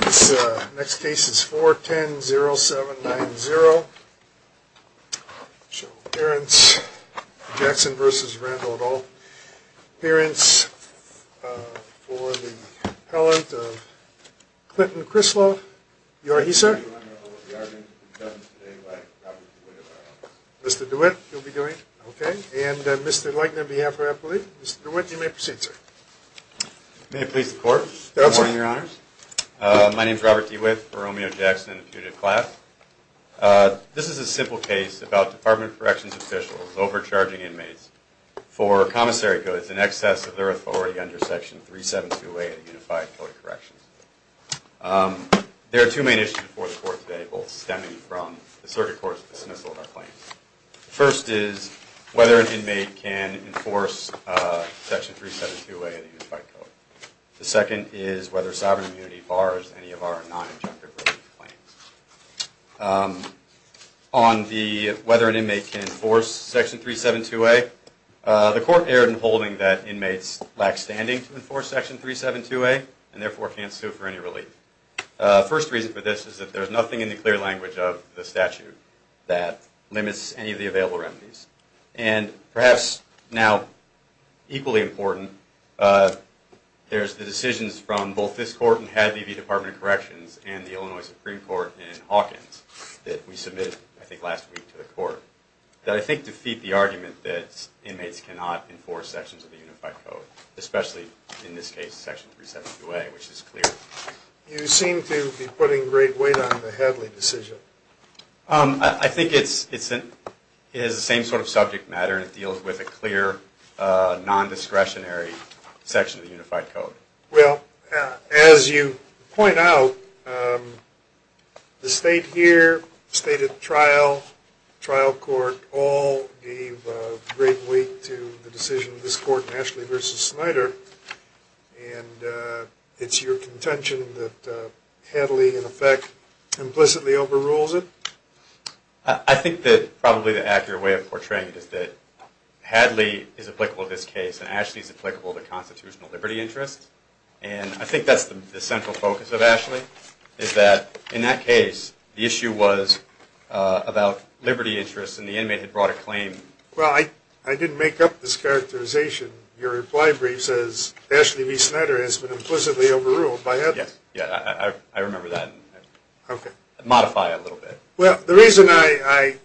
This next case is 410-0790, appearance Jackson v. Randle et al, appearance for the appellant of Clinton Crislow. You are he, sir? Mr. DeWitt. Mr. DeWitt, you'll be doing it? Okay. And Mr. Leitner on behalf of Appalooh. Mr. DeWitt, you may proceed, sir. May it please the court. Good morning, your honors. My name is Robert DeWitt for Romeo Jackson and the Puget Clap. This is a simple case about Department of Corrections officials overcharging inmates for commissary codes in excess of their authority under Section 372A of the Unified Code of Corrections. There are two main issues before the court today, both stemming from the circuit court's dismissal of our claims. First is whether an inmate can enforce Section 372A of the Unified Code. The second is whether sovereign immunity bars any of our non-objective relief claims. On whether an inmate can enforce Section 372A, the court erred in holding that inmates lack standing to enforce Section 372A and therefore can't sue for any relief. First reason for this is that there is nothing in the clear language of the statute that limits any of the available remedies. And perhaps now equally important, there's the decisions from both this court and Hadley v. Department of Corrections and the Illinois Supreme Court in Hawkins that we submitted, I think, last week to the court that I think defeat the argument that inmates cannot enforce sections of the Unified Code, especially in this case, Section 372A, which is clear. You seem to be putting great weight on the Hadley decision. I think it has the same sort of subject matter and it deals with a clear non-discretionary section of the Unified Code. Well, as you point out, the state here, the state at trial, trial court, all gave great weight to the decision of this court, Ashley v. Snyder, and it's your contention that Hadley in effect implicitly overrules it? I think that probably the accurate way of portraying it is that Hadley is applicable to this case and Ashley is applicable to constitutional liberty interests. And I think that's the central focus of Ashley, is that in that case, the issue was about liberty interests and the inmate had brought a claim. Well, I didn't make up this characterization. Your reply brief says Ashley v. Snyder has been implicitly overruled by Hadley. Yes, I remember that. I modified it a little bit. Well, the reason I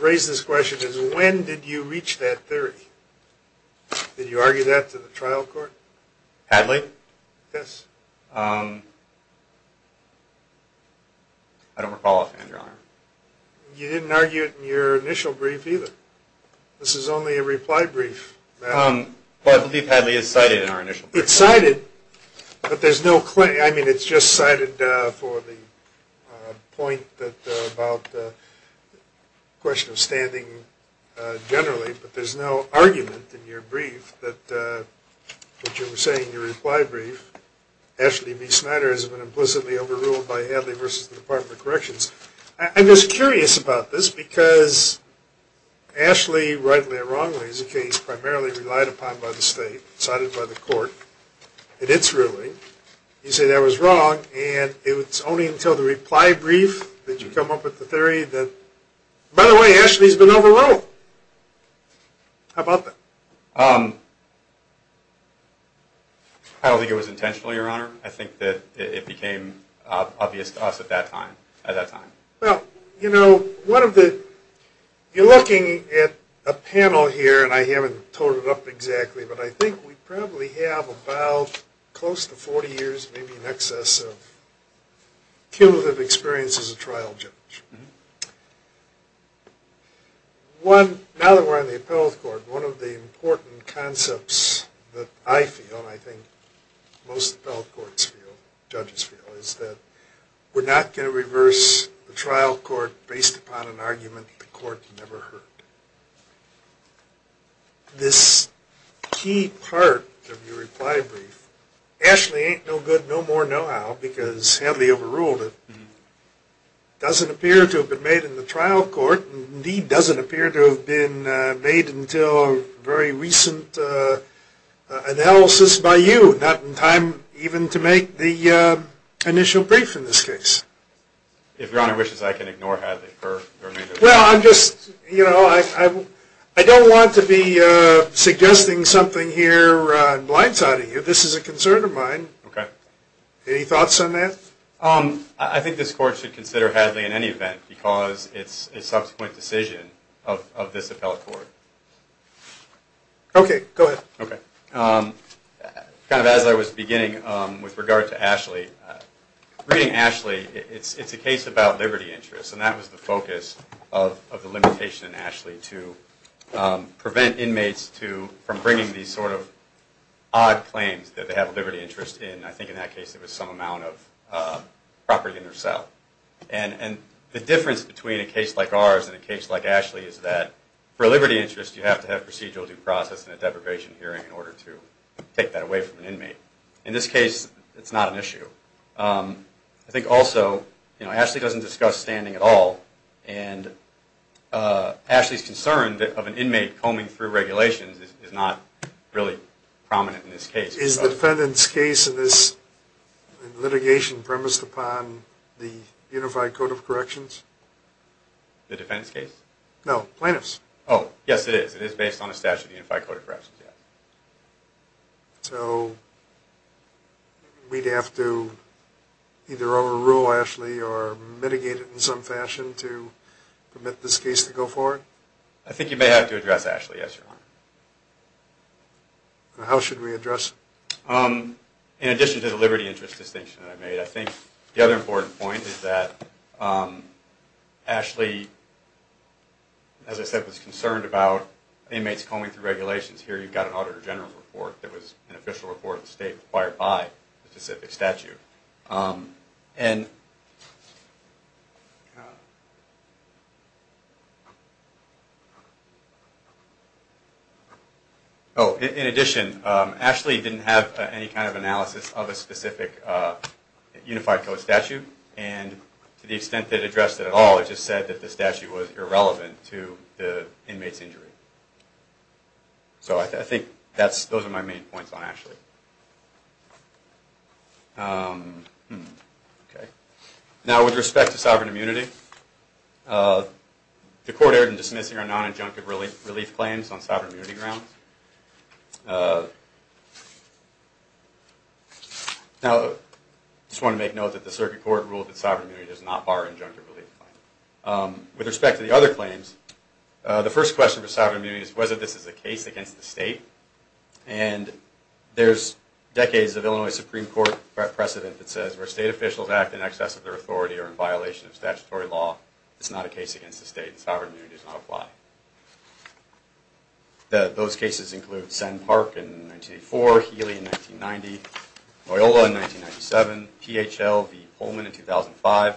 raise this question is when did you reach that theory? Did you argue that to the trial court? Hadley? I don't recall offhand, Your Honor. You didn't argue it in your initial brief either. This is only a reply brief. Well, I believe Hadley is cited in our initial brief. It's cited, but there's no claim. I mean, it's just cited for the point about the question of standing generally, but there's no argument in your brief that what you were saying, your reply brief, Ashley v. Snyder has been implicitly overruled by Hadley versus the Department of Corrections. I'm just curious about this because Ashley, rightly or wrongly, is a case primarily relied upon by the state, cited by the court, and it's ruling. You say that was wrong, and it's only until the reply brief that you come up with the theory that, by the way, Ashley's been overruled. How about that? I don't think it was intentional, Your Honor. I think that it became obvious to us at that time. Well, you know, one of the – you're looking at a panel here, and I haven't told it up exactly, but I think we probably have about close to 40 years, maybe in excess, of cumulative experience as a trial judge. Now that we're on the appellate court, one of the important concepts that I feel, and I think most appellate courts feel, judges feel, is that we're not going to reverse the trial court based upon an argument the court never heard. This key part of your reply brief, Ashley ain't no good no more no how because Hadley overruled it, doesn't appear to have been made in the trial court, and indeed doesn't appear to have been made until a very recent analysis by you, not in time even to make the initial brief in this case. If Your Honor wishes, I can ignore Hadley for the remainder of the time. Well, I'm just – you know, I don't want to be suggesting something here in blindside of you. This is a concern of mine. Okay. Any thoughts on that? I think this court should consider Hadley in any event because it's a subsequent decision of this appellate court. Okay, go ahead. Okay. Kind of as I was beginning with regard to Ashley, reading Ashley, it's a case about liberty interests, and that was the focus of the limitation in Ashley to prevent inmates to – from bringing these sort of odd claims that they have liberty interests in. And I think in that case, it was some amount of property in their cell. And the difference between a case like ours and a case like Ashley is that for liberty interests, you have to have procedural due process and a deprivation hearing in order to take that away from an inmate. In this case, it's not an issue. I think also, you know, Ashley doesn't discuss standing at all, and Ashley's concern of an inmate combing through regulations is not really prominent in this case. Is the defendant's case in this litigation premised upon the Unified Code of Corrections? The defendant's case? No, plaintiff's. Oh, yes it is. It is based on a statute of the Unified Code of Corrections, yes. So we'd have to either overrule Ashley or mitigate it in some fashion to permit this case to go forward? I think you may have to address Ashley, yes, Your Honor. How should we address it? In addition to the liberty interest distinction that I made, I think the other important point is that Ashley, as I said, was concerned about inmates combing through regulations. Here you've got an Auditor General's report that was an official report of the state required by the specific statute. Oh, in addition, Ashley didn't have any kind of analysis of a specific Unified Code statute, and to the extent that it addressed it at all, it just said that the statute was irrelevant to the inmate's injury. So I think those are my main points on Ashley. Now with respect to sovereign immunity, the Court erred in dismissing our non-injunctive relief claims on sovereign immunity grounds. Now, I just want to make note that the Circuit Court ruled that sovereign immunity does not bar injunctive relief claims. With respect to the other claims, the first question for sovereign immunity is whether this is a case against the state, and there's decades of Illinois Supreme Court precedent that says where state officials act in excess of their authority or in violation of statutory law, it's not a case against the state and sovereign immunity does not apply. Those cases include Senn Park in 1984, Healy in 1990, Loyola in 1997, PHL v. Pullman in 2010,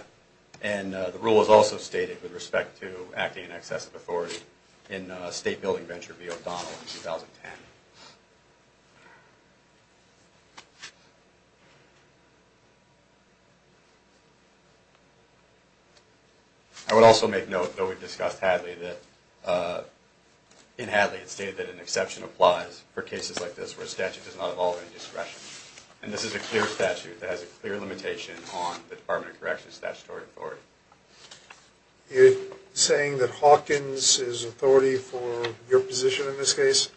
and it's also stated with respect to acting in excess of authority in a state building venture v. O'Donnell in 2010. I would also make note, though we've discussed Hadley, that in Hadley it stated that an exception applies for cases like this where a statute does not involve any discretion, and this is a clear statute that has a clear limitation on the Department of Correction's statutory authority. You're saying that Hawkins is authority for your position in this case,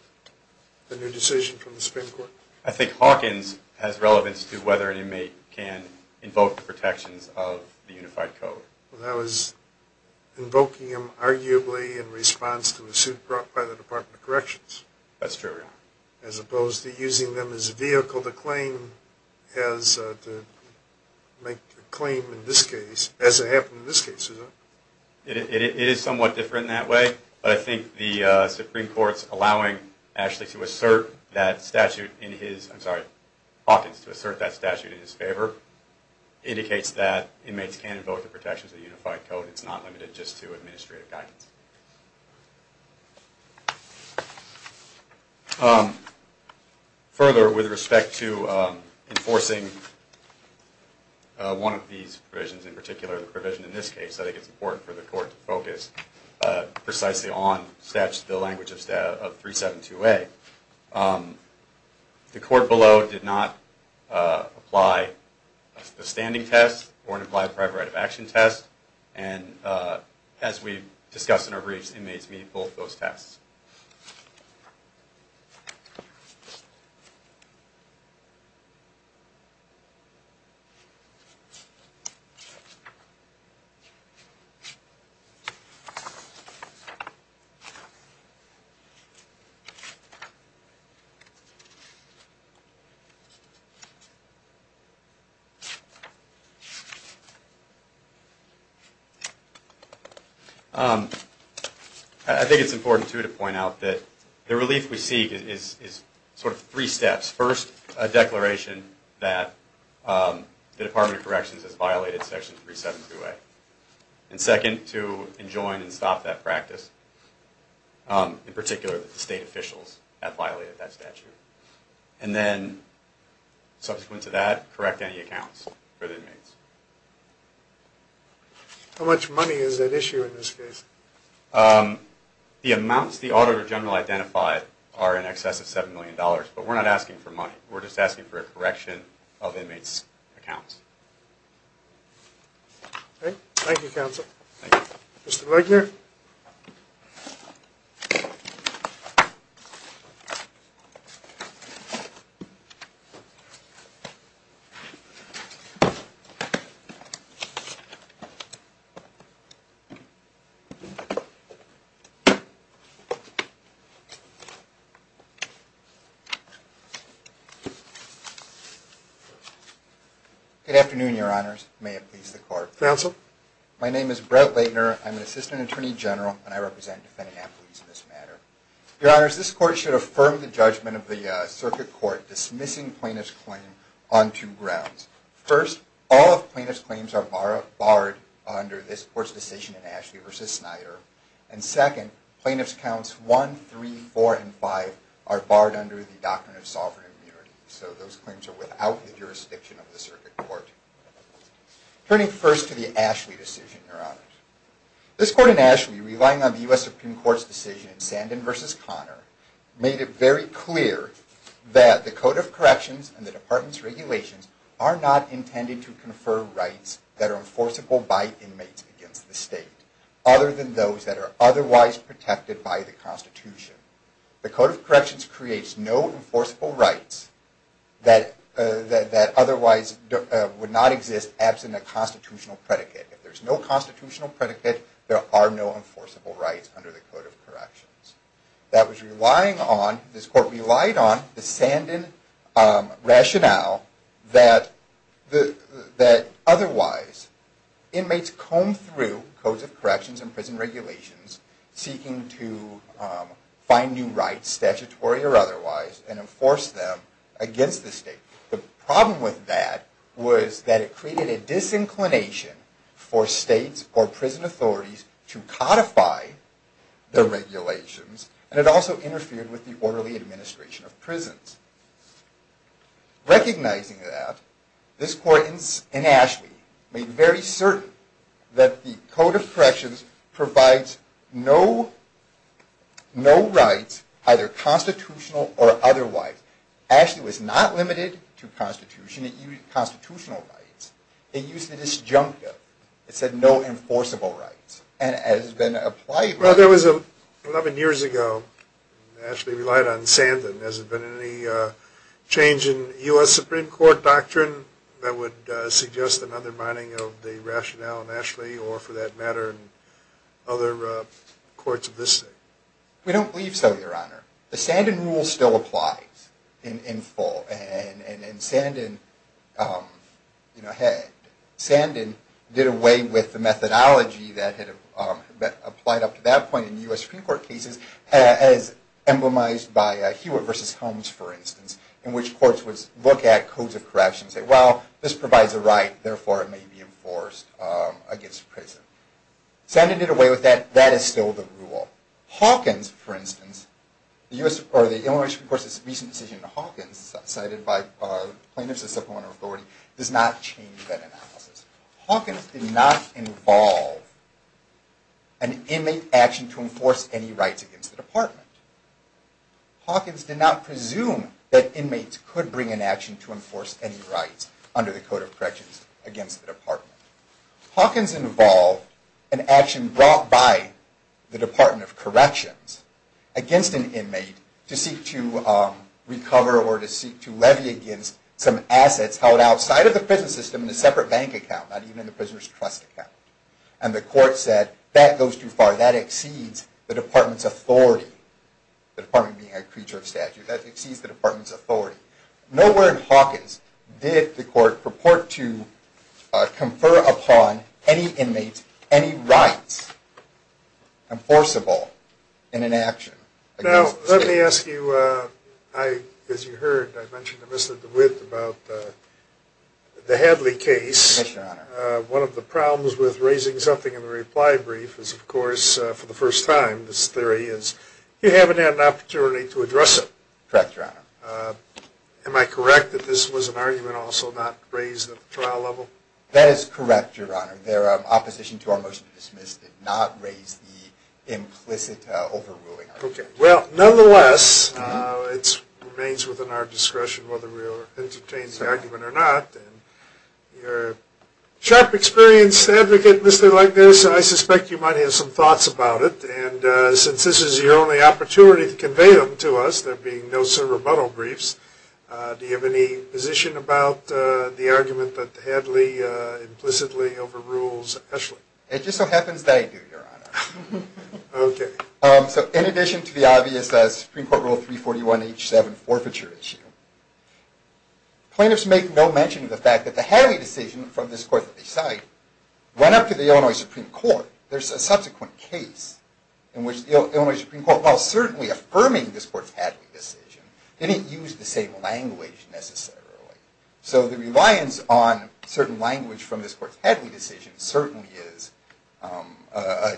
the new decision from the Supreme Court? I think Hawkins has relevance to whether an inmate can invoke the protections of the Unified Code. Well, that was invoking them arguably in response to a suit brought by the Department of Corrections. That's true. As opposed to using them as a vehicle to make a claim in this case, as it happened in this case, is that right? It is somewhat different in that way, but I think the Supreme Court's allowing Hawkins to assert that statute in his favor indicates that inmates can invoke the protections of the Unified Code. It's not limited just to administrative guidance. Further, with respect to enforcing one of these provisions, in particular the provision in this case, I think it's important for the Court to focus precisely on the language of 372A. The Court below did not apply a standing test or an implied prior right of action test, and as we discussed in our briefs, inmates meet both those tests. I think it's important, too, to point out that the relief we seek is not necessarily in violation of 372A. The relief we seek is sort of three steps. First, a declaration that the Department of Corrections has violated section 372A. And second, to enjoin and stop that practice, in particular that the state officials have violated that statute. And then, subsequent to that, correct any accounts for the inmates. How much money is at issue in this case? The amounts the auditor general identified are in excess of $7 million, but we're not asking for money. We're just asking for a correction of inmates' accounts. Thank you, Counsel. Mr. Wagner? Good afternoon, Your Honors. May it please the Court. Counsel? My name is Brett Wagner. I'm an assistant attorney general, and I represent defendant affiliates in this matter. Your Honors, this Court should affirm the judgment of the Circuit Court dismissing plaintiff's claim on two grounds. First, all of plaintiff's claims are barred under this Court's decision in Ashley v. Snyder. And second, plaintiff's counts 1, 3, 4, and 5 are barred under the Doctrine of Sovereign Immunity. So those claims are without the jurisdiction of the Circuit Court. Turning first to the Ashley decision, Your Honors, this Court in Ashley, relying on the U.S. Supreme Court's decision in Sandin v. Conner, made it very clear that the Code of Corrections and the Department's regulations are not intended to confer rights that are other than those that are otherwise protected by the Constitution. The Code of Corrections creates no enforceable rights that otherwise would not exist absent a constitutional predicate. If there's no constitutional predicate, there are no enforceable rights under the Code of Corrections. That was relying on, this Court relied on, the Sandin rationale that otherwise inmates combed through Codes of Corrections and prison regulations seeking to find new rights, statutory or otherwise, and enforce them against the state. The problem with that was that it created a disinclination for states or prison authorities to codify the regulations, and it also interfered with the orderly administration of prisons. Recognizing that, this Court in Ashley made very certain that the Code of Corrections provides no rights, either constitutional or otherwise. Ashley was not limited to constitutional rights. It used the disjunctive. It said no enforceable rights. Well, there was, 11 years ago, Ashley relied on Sandin. Has there been any change in U.S. Supreme Court doctrine that would suggest another mining of the rationale in Ashley, or for that matter, other courts of this state? We don't believe so, Your Honor. The Sandin rule still applies in full, and Sandin did away with the methodology that had been applied up to that point in U.S. Supreme Court cases, as emblemized by Hewitt v. Holmes, for instance, in which courts would look at Codes of Corrections and say, well, this provides a right, therefore it may be enforced against prison. Sandin did away with that. That is still the rule. Hawkins, for instance, or the Illinois Supreme Court's recent decision in Hawkins, cited by plaintiffs as supplemental authority, does not change that analysis. Hawkins did not involve an inmate action to enforce any rights against the department. Hawkins did not presume that inmates could bring an action to enforce any rights under the Code of Corrections against the department. Hawkins involved an action brought by the Department of Corrections against an inmate to seek to recover or to seek to levy against some assets held outside of the prison system in a separate bank account, not even in the prisoner's trust account. And the court said, that goes too far. That exceeds the department's authority, the department being a creature of statute. That exceeds the department's authority. Nowhere in Hawkins did the court purport to confer upon any inmates any rights enforceable in an action. Now, let me ask you, as you heard, I mentioned to Mr. DeWitt about the Hadley case. One of the problems with raising something in the reply brief is, of course, for the first time, this theory is you haven't had an opportunity to address it. Correct, Your Honor. Am I correct that this was an argument also not raised at the trial level? That is correct, Your Honor. Their opposition to our motion to dismiss did not raise the implicit overruling argument. Well, nonetheless, it remains within our discretion whether we entertain the argument or not. You're a sharp, experienced advocate, Mr. Leibniz, and I suspect you might have some thoughts about it. And since this is your only opportunity to convey them to us, there being no surrebuttal briefs, do you have any position about the argument that Hadley implicitly overrules Ashley? It just so happens that I do, Your Honor. Okay. So in addition to the obvious Supreme Court Rule 341H7 forfeiture issue, plaintiffs make no mention of the fact that the Hadley decision from this court that they cite went up to the Illinois Supreme Court. There's a subsequent case in which the Illinois Supreme Court, while certainly affirming this court's Hadley decision, didn't use the same language necessarily. So the reliance on certain language from this court's Hadley decision certainly is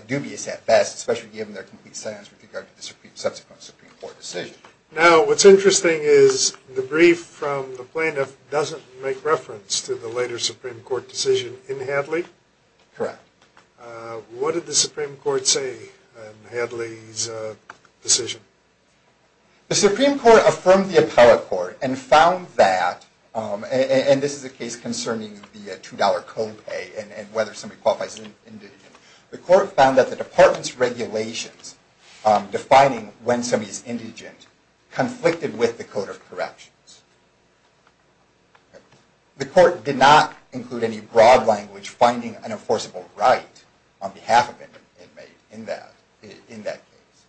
dubious at best, especially given their complete silence with regard to the subsequent Supreme Court decision. Now, what's interesting is the brief from the plaintiff doesn't make reference to the later Supreme Court decision in Hadley. Correct. What did the Supreme Court say in Hadley's decision? The Supreme Court affirmed the appellate court and found that, and this is a case concerning the $2 copay and whether somebody qualifies as indigent, the court found that the department's regulations defining when somebody is indigent conflicted with the code of corrections. The court did not include any broad language finding an enforceable right on behalf of an inmate in that case.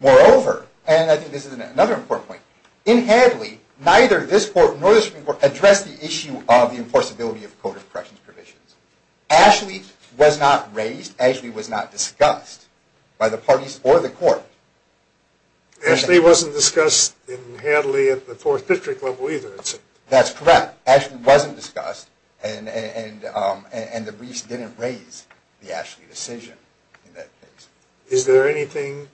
Moreover, and I think this is another important point, in Hadley neither this court nor the Supreme Court addressed the issue of the enforceability of code of corrections provisions. Ashley was not raised, Ashley was not discussed by the parties or the court. Ashley wasn't discussed in Hadley at the Fourth District level either. That's correct. Ashley wasn't discussed and the briefs didn't raise the Ashley decision in that case. Is there anything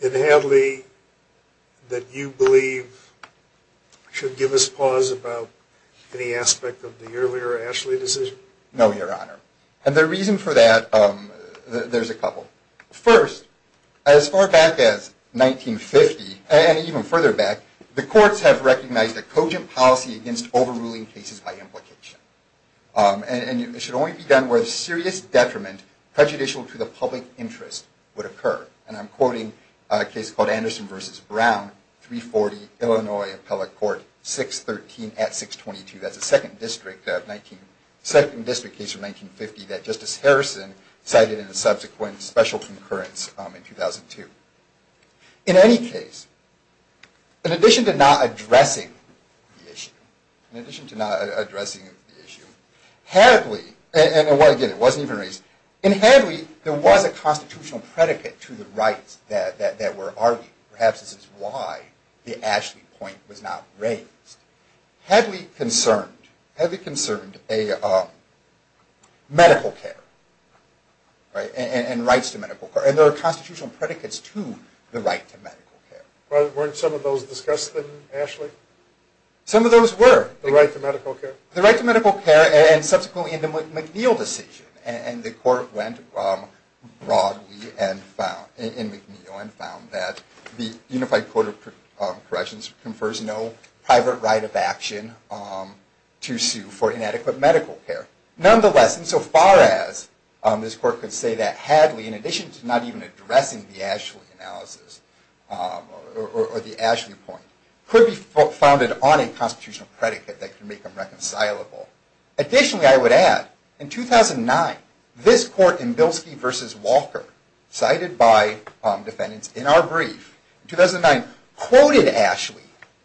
in Hadley that you believe should give us pause about any aspect of the earlier Ashley decision? No, Your Honor. And the reason for that, there's a couple. First, as far back as 1950, and even further back, the courts have recognized a cogent policy against overruling cases by implication. And it should only be done where a serious detriment prejudicial to the public interest would occur. And I'm quoting a case called Anderson v. Brown, 340 Illinois Appellate Court, 613 at 622. That's the Second District case of 1950 that Justice Harrison cited in a subsequent special concurrence in 2002. In any case, in addition to not addressing the issue, Hadley, and again it wasn't even raised, in Hadley there was a constitutional predicate to the rights that were argued. Perhaps this is why the Ashley point was not raised. Hadley concerned medical care and rights to medical care. And there are constitutional predicates to the right to medical care. Weren't some of those discussed in Ashley? Some of those were. The right to medical care? The right to medical care and subsequently in the McNeil decision. And the court went broadly in McNeil and found that the Unified Court of Corrections confers no private right of action to sue for inadequate medical care. Nonetheless, insofar as this court could say that Hadley, in addition to not even addressing the Ashley analysis, or the Ashley point, could be founded on a constitutional predicate that could make them reconcilable. Additionally, I would add, in 2009, this court in Bilski v. Walker, cited by defendants in our brief, in 2009, quoted Ashley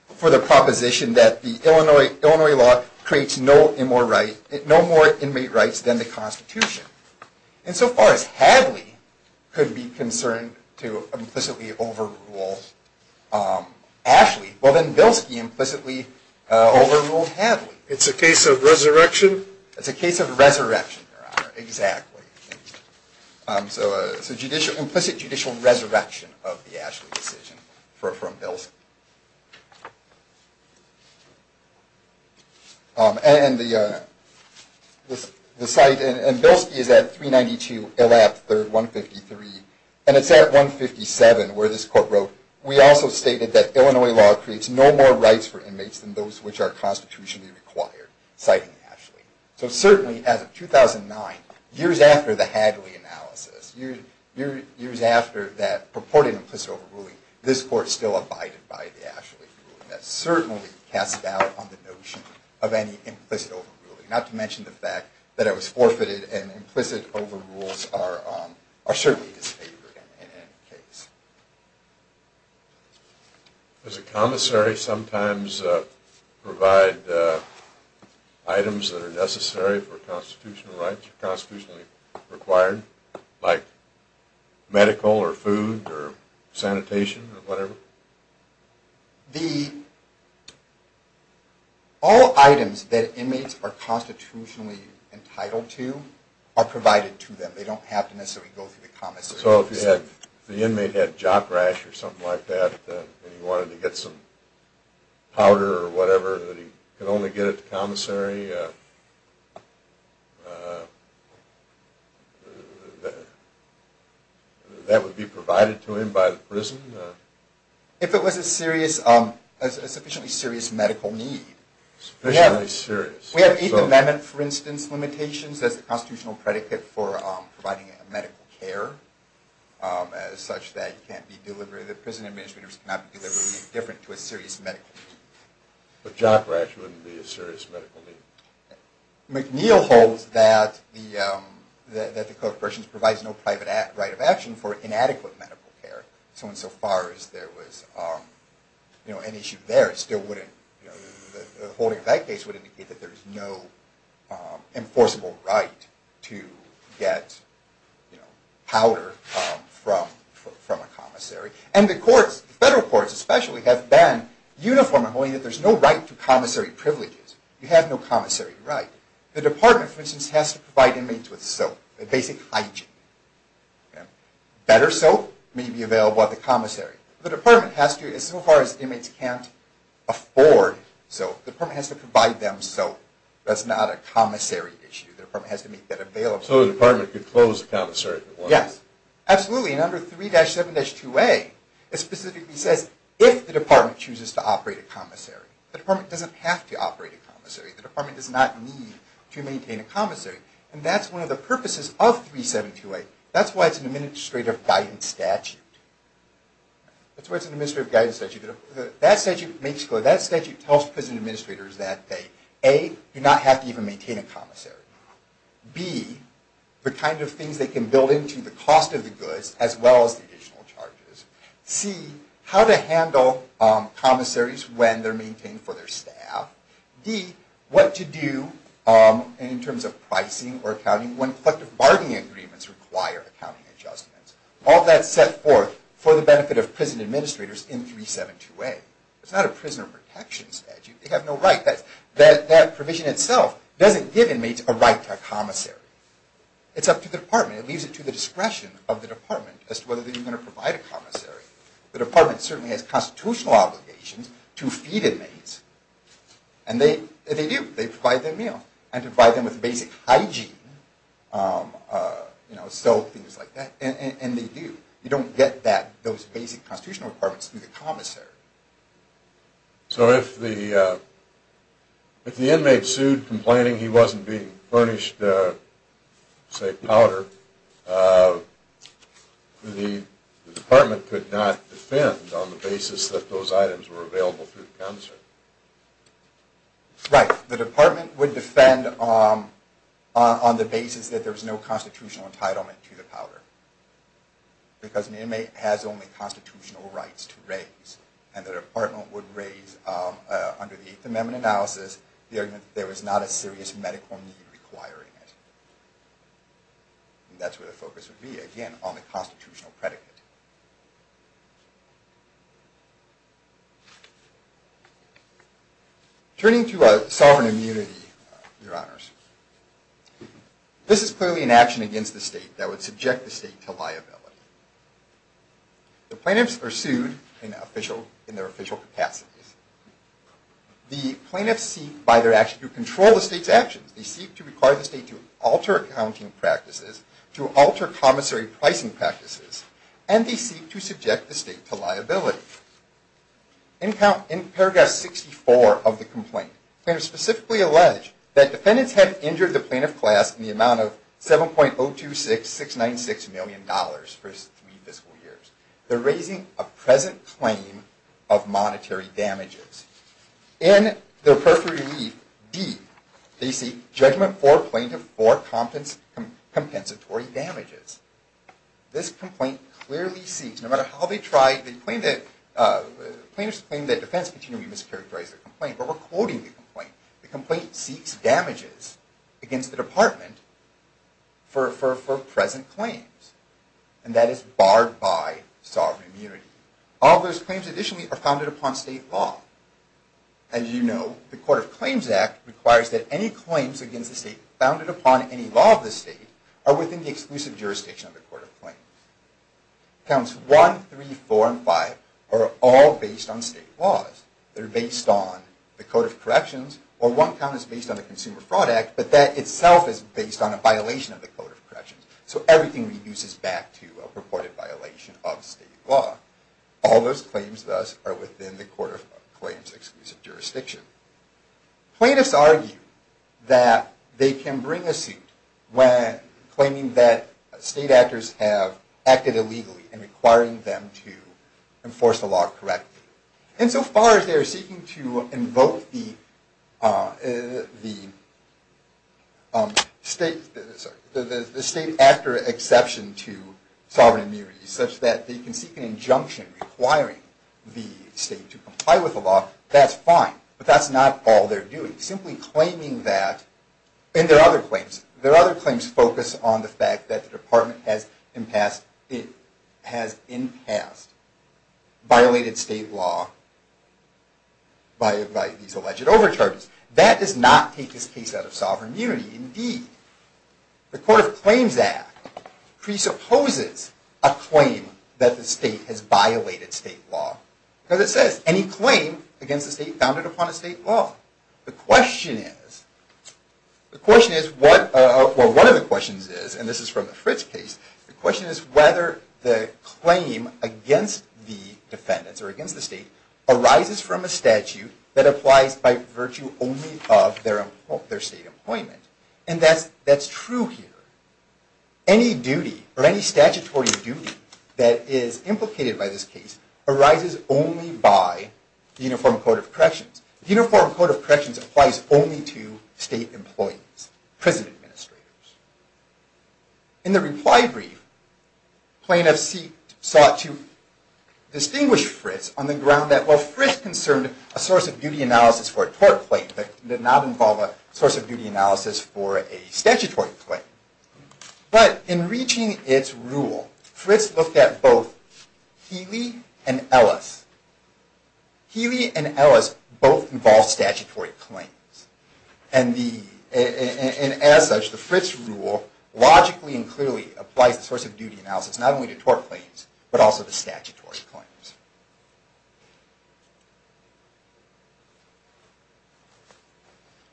for the proposition that the Illinois law creates no more inmate rights than the Constitution. And so far as Hadley could be concerned to implicitly overrule Ashley, well then Bilski implicitly overruled Hadley. It's a case of resurrection? It's a case of resurrection, Your Honor, exactly. So it's an implicit judicial resurrection of the Ashley decision from Bilski. And Bilski is at 392, Illab, 3rd, 153, and it's at 157 where this court wrote, we also stated that Illinois law creates no more rights for inmates than those which are constitutionally required, citing Ashley. So certainly, as of 2009, years after the Hadley analysis, years after that purported implicit overruling, this court still abided by the Ashley ruling. That certainly casts doubt on the notion of any implicit overruling, not to mention the fact that it was forfeited and implicit overrules are certainly disfavored in any case. Does a commissary sometimes provide items that are necessary for constitutional rights, constitutionally required, like medical or food or sanitation or whatever? All items that inmates are constitutionally entitled to are provided to them. They don't have to necessarily go through the commissary. So if the inmate had jock rash or something like that, and he wanted to get some powder or whatever, that he could only get at the commissary, that would be provided to him by the prison? If it was a sufficiently serious medical need. Sufficiently serious. We have Eighth Amendment, for instance, limitations as the constitutional predicate for providing medical care such that you can't be delivered, that prison administrators cannot be delivered, anything different to a serious medical need. But jock rash wouldn't be a serious medical need? McNeil holds that the Code of Procedures provides no private right of action for inadequate medical care. So insofar as there was an issue there, the holding of that case would indicate that there's no enforceable right to get powder from a commissary. And the courts, federal courts especially, have been uniform in holding that there's no right to commissary privileges. You have no commissary right. The department, for instance, has to provide inmates with soap, basic hygiene. Better soap may be available at the commissary. The department has to, as far as inmates can't afford soap, the department has to provide them soap. That's not a commissary issue. The department has to make that available. So the department could close the commissary if it wanted? Yes, absolutely. And under 3-7-2A, it specifically says if the department chooses to operate a commissary. The department doesn't have to operate a commissary. The department does not need to maintain a commissary. And that's one of the purposes of 3-7-2A. That's why it's an Administrative Guidance Statute. That's why it's an Administrative Guidance Statute. That statute makes it clear. That statute tells prison administrators that they, A, do not have to even maintain a commissary. B, the kind of things they can build into the cost of the goods as well as the additional charges. C, how to handle commissaries when they're maintained for their staff. D, what to do in terms of pricing or accounting when collective bargaining agreements require accounting adjustments. All that's set forth for the benefit of prison administrators in 3-7-2A. It's not a prisoner protection statute. They have no right. That provision itself doesn't give inmates a right to a commissary. It's up to the department. It leaves it to the discretion of the department as to whether they're going to provide a commissary. The department certainly has constitutional obligations to feed inmates. And they do. They provide their meal. And provide them with basic hygiene. Soap, things like that. And they do. You don't get those basic constitutional requirements through the commissary. But the department could not defend on the basis that those items were available through the commissary. Right. The department would defend on the basis that there was no constitutional entitlement to the powder. Because an inmate has only constitutional rights to raise. And the department would raise under the Eighth Amendment analysis the argument that there was not a serious medical need requiring it. And that's where the focus would be, again, on the constitutional predicate. Turning to sovereign immunity, Your Honors. This is clearly an action against the state that would subject the state to liability. The plaintiffs are sued in their official capacities. The plaintiffs seek by their action to control the state's actions. They seek to require the state to alter accounting practices. To alter commissary pricing practices. And they seek to subject the state to liability. In paragraph 64 of the complaint, plaintiffs specifically allege that defendants have injured the plaintiff class in the amount of $7.026696 million for three fiscal years. They're raising a present claim of monetary damages. In their perforated wreath, D, they seek judgment for plaintiff for compensatory damages. This complaint clearly seeks, no matter how they try, the plaintiffs claim that defense continually mischaracterizes the complaint, but we're quoting the complaint. The complaint seeks damages against the department for present claims. And that is barred by sovereign immunity. All those claims additionally are founded upon state law. As you know, the Court of Claims Act requires that any claims against the state founded upon any law of the state are within the exclusive jurisdiction of the Court of Claims. Counts 1, 3, 4, and 5 are all based on state laws. They're based on the Code of Corrections, or one count is based on the Consumer Fraud Act, but that itself is based on a violation of the Code of Corrections. So everything reduces back to a purported violation of state law. All those claims, thus, are within the Court of Claims' exclusive jurisdiction. Plaintiffs argue that they can bring a suit when claiming that state actors have acted illegally and requiring them to enforce the law correctly. Insofar as they are seeking to invoke the state actor exception to sovereign immunity, such that they can seek an injunction requiring the state to comply with the law, that's fine. But that's not all they're doing. Simply claiming that, and there are other claims. There are other claims focused on the fact that the department has in past violated state law by these alleged overcharges. That does not take this case out of sovereign unity. The Court of Claims Act presupposes a claim that the state has violated state law. Because it says, any claim against the state founded upon a state law. The question is, well one of the questions is, and this is from the Fritz case, the question is whether the claim against the defendants or against the state arises from a statute that applies by virtue only of their state employment. And that's true here. Any duty or any statutory duty that is implicated by this case arises only by the Uniform Code of Corrections. The Uniform Code of Corrections applies only to state employees, prison administrators. In the reply brief, plaintiffs sought to distinguish Fritz on the ground that, while Fritz concerned a source of duty analysis for a tort claim, that did not involve a source of duty analysis for a statutory claim. But in reaching its rule, Fritz looked at both Healy and Ellis. Healy and Ellis both involved statutory claims. And as such, the Fritz rule logically and clearly applies the source of duty analysis not only to tort claims, but also to statutory claims.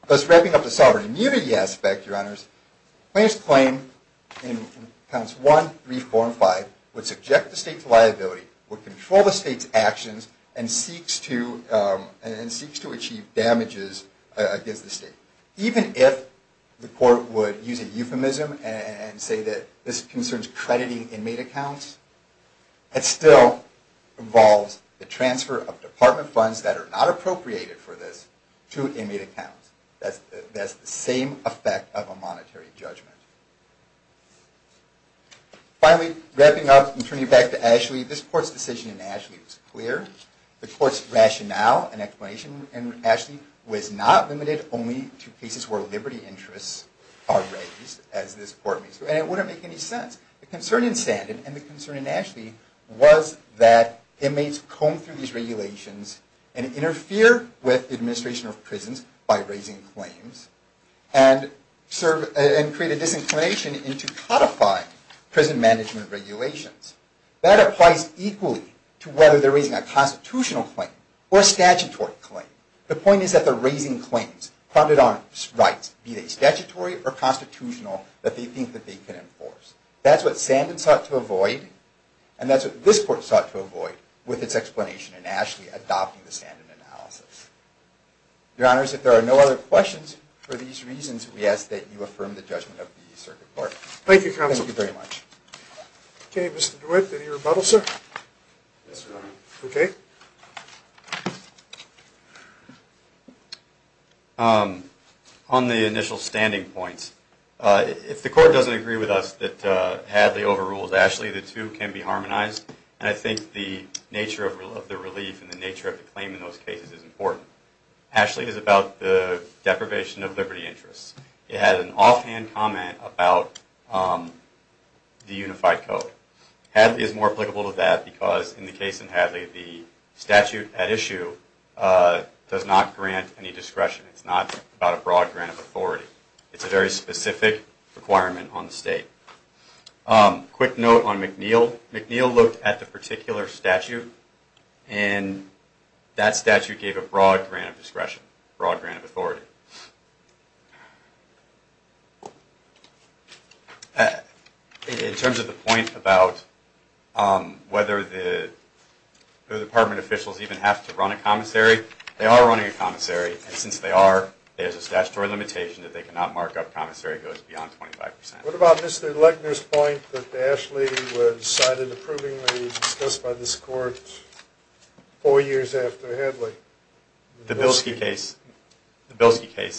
Thus wrapping up the sovereignty and immunity aspect, your honors, plaintiffs claim in Accounts 1, 3, 4, and 5 would subject the state to liability, would control the state's actions, and seeks to achieve damages against the state. Even if the court would use a euphemism and say that this concerns crediting inmate accounts, it still involves the transfer of department funds that are not appropriated for this to inmate accounts. That's the same effect of a monetary judgment. Finally, wrapping up and turning it back to Ashley, this court's decision in Ashley was clear. The court's rationale and explanation in Ashley was not limited only to cases where liberty interests are raised, as this court means. And it wouldn't make any sense. The concern in Sanden and the concern in Ashley was that inmates comb through these regulations and interfere with the administration of prisons by raising claims, and create a disinclination into codifying prison management regulations. That applies equally to whether they're raising a constitutional claim or a statutory claim. The point is that they're raising claims funded on rights, be they statutory or constitutional, that they think that they can enforce. That's what Sanden sought to avoid, and that's what this court sought to avoid, with its explanation in Ashley adopting the Sanden analysis. Your honors, if there are no other questions for these reasons, we ask that you affirm the judgment of the Circuit Court. Thank you, counsel. Thank you very much. Okay, Mr. DeWitt, any rebuttals, sir? Yes, your honor. Okay. On the initial standing points, if the court doesn't agree with us that Hadley overrules Ashley, the two can be harmonized, and I think the nature of the relief and the nature of the claim in those cases is important. Ashley is about the deprivation of liberty interests. It has an offhand comment about the unified code. Hadley is more applicable to that because in the case in Hadley, the statute at issue does not grant any discretion. It's not about a broad grant of authority. It's a very specific requirement on the state. Quick note on McNeil. McNeil looked at the particular statute, and that statute gave a broad grant of discretion, not a broad grant of authority. In terms of the point about whether the department officials even have to run a commissary, they are running a commissary, and since they are, there's a statutory limitation that they cannot mark up. Commissary goes beyond 25%. What about Mr. Legner's point that Ashley was cited approvingly discussed by this court four years after Hadley? The Bilski case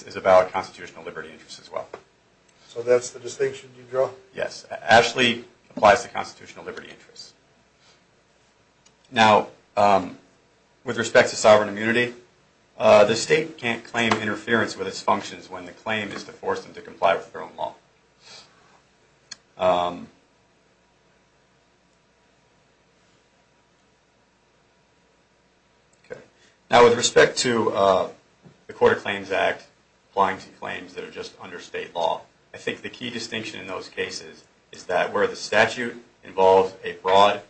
is about constitutional liberty interests as well. So that's the distinction you draw? Yes. Ashley applies to constitutional liberty interests. Now, with respect to sovereign immunity, the state can't claim interference with its functions when the claim is to force them to comply with their own law. Now, with respect to the Court of Claims Act applying to claims that are just under state law, I think the key distinction in those cases is that where the statute involves a broad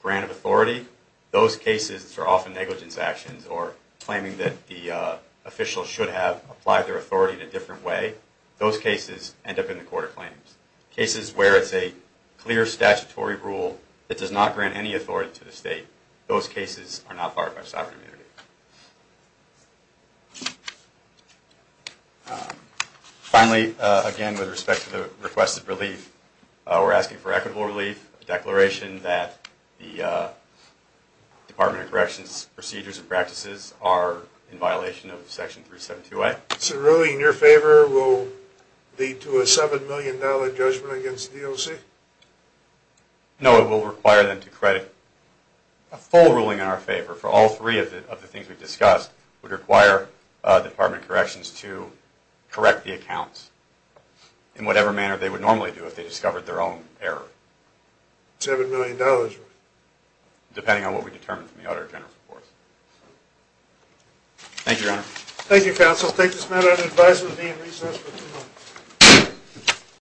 grant of authority, those cases are often negligence actions or claiming that the official should have applied their authority in a different way. Those cases end up in the Court of Claims. Cases where it's a clear statutory rule that does not grant any authority to the state, those cases are not barred by sovereign immunity. Finally, again, with respect to the requested relief, we're asking for equitable relief, a declaration that the Department of Corrections procedures and practices are in violation of Section 372A. So a ruling in your favor will lead to a $7 million judgment against the DOC? No, it will require them to credit a full ruling in our favor for all three of the things we've discussed would require the Department of Corrections to correct the accounts in whatever manner they would normally do if they discovered their own error. $7 million. Depending on what we determine from the Auditor General's report. Thank you, Your Honor. Thank you, counsel. I'll take this matter under advisory at recess for two minutes.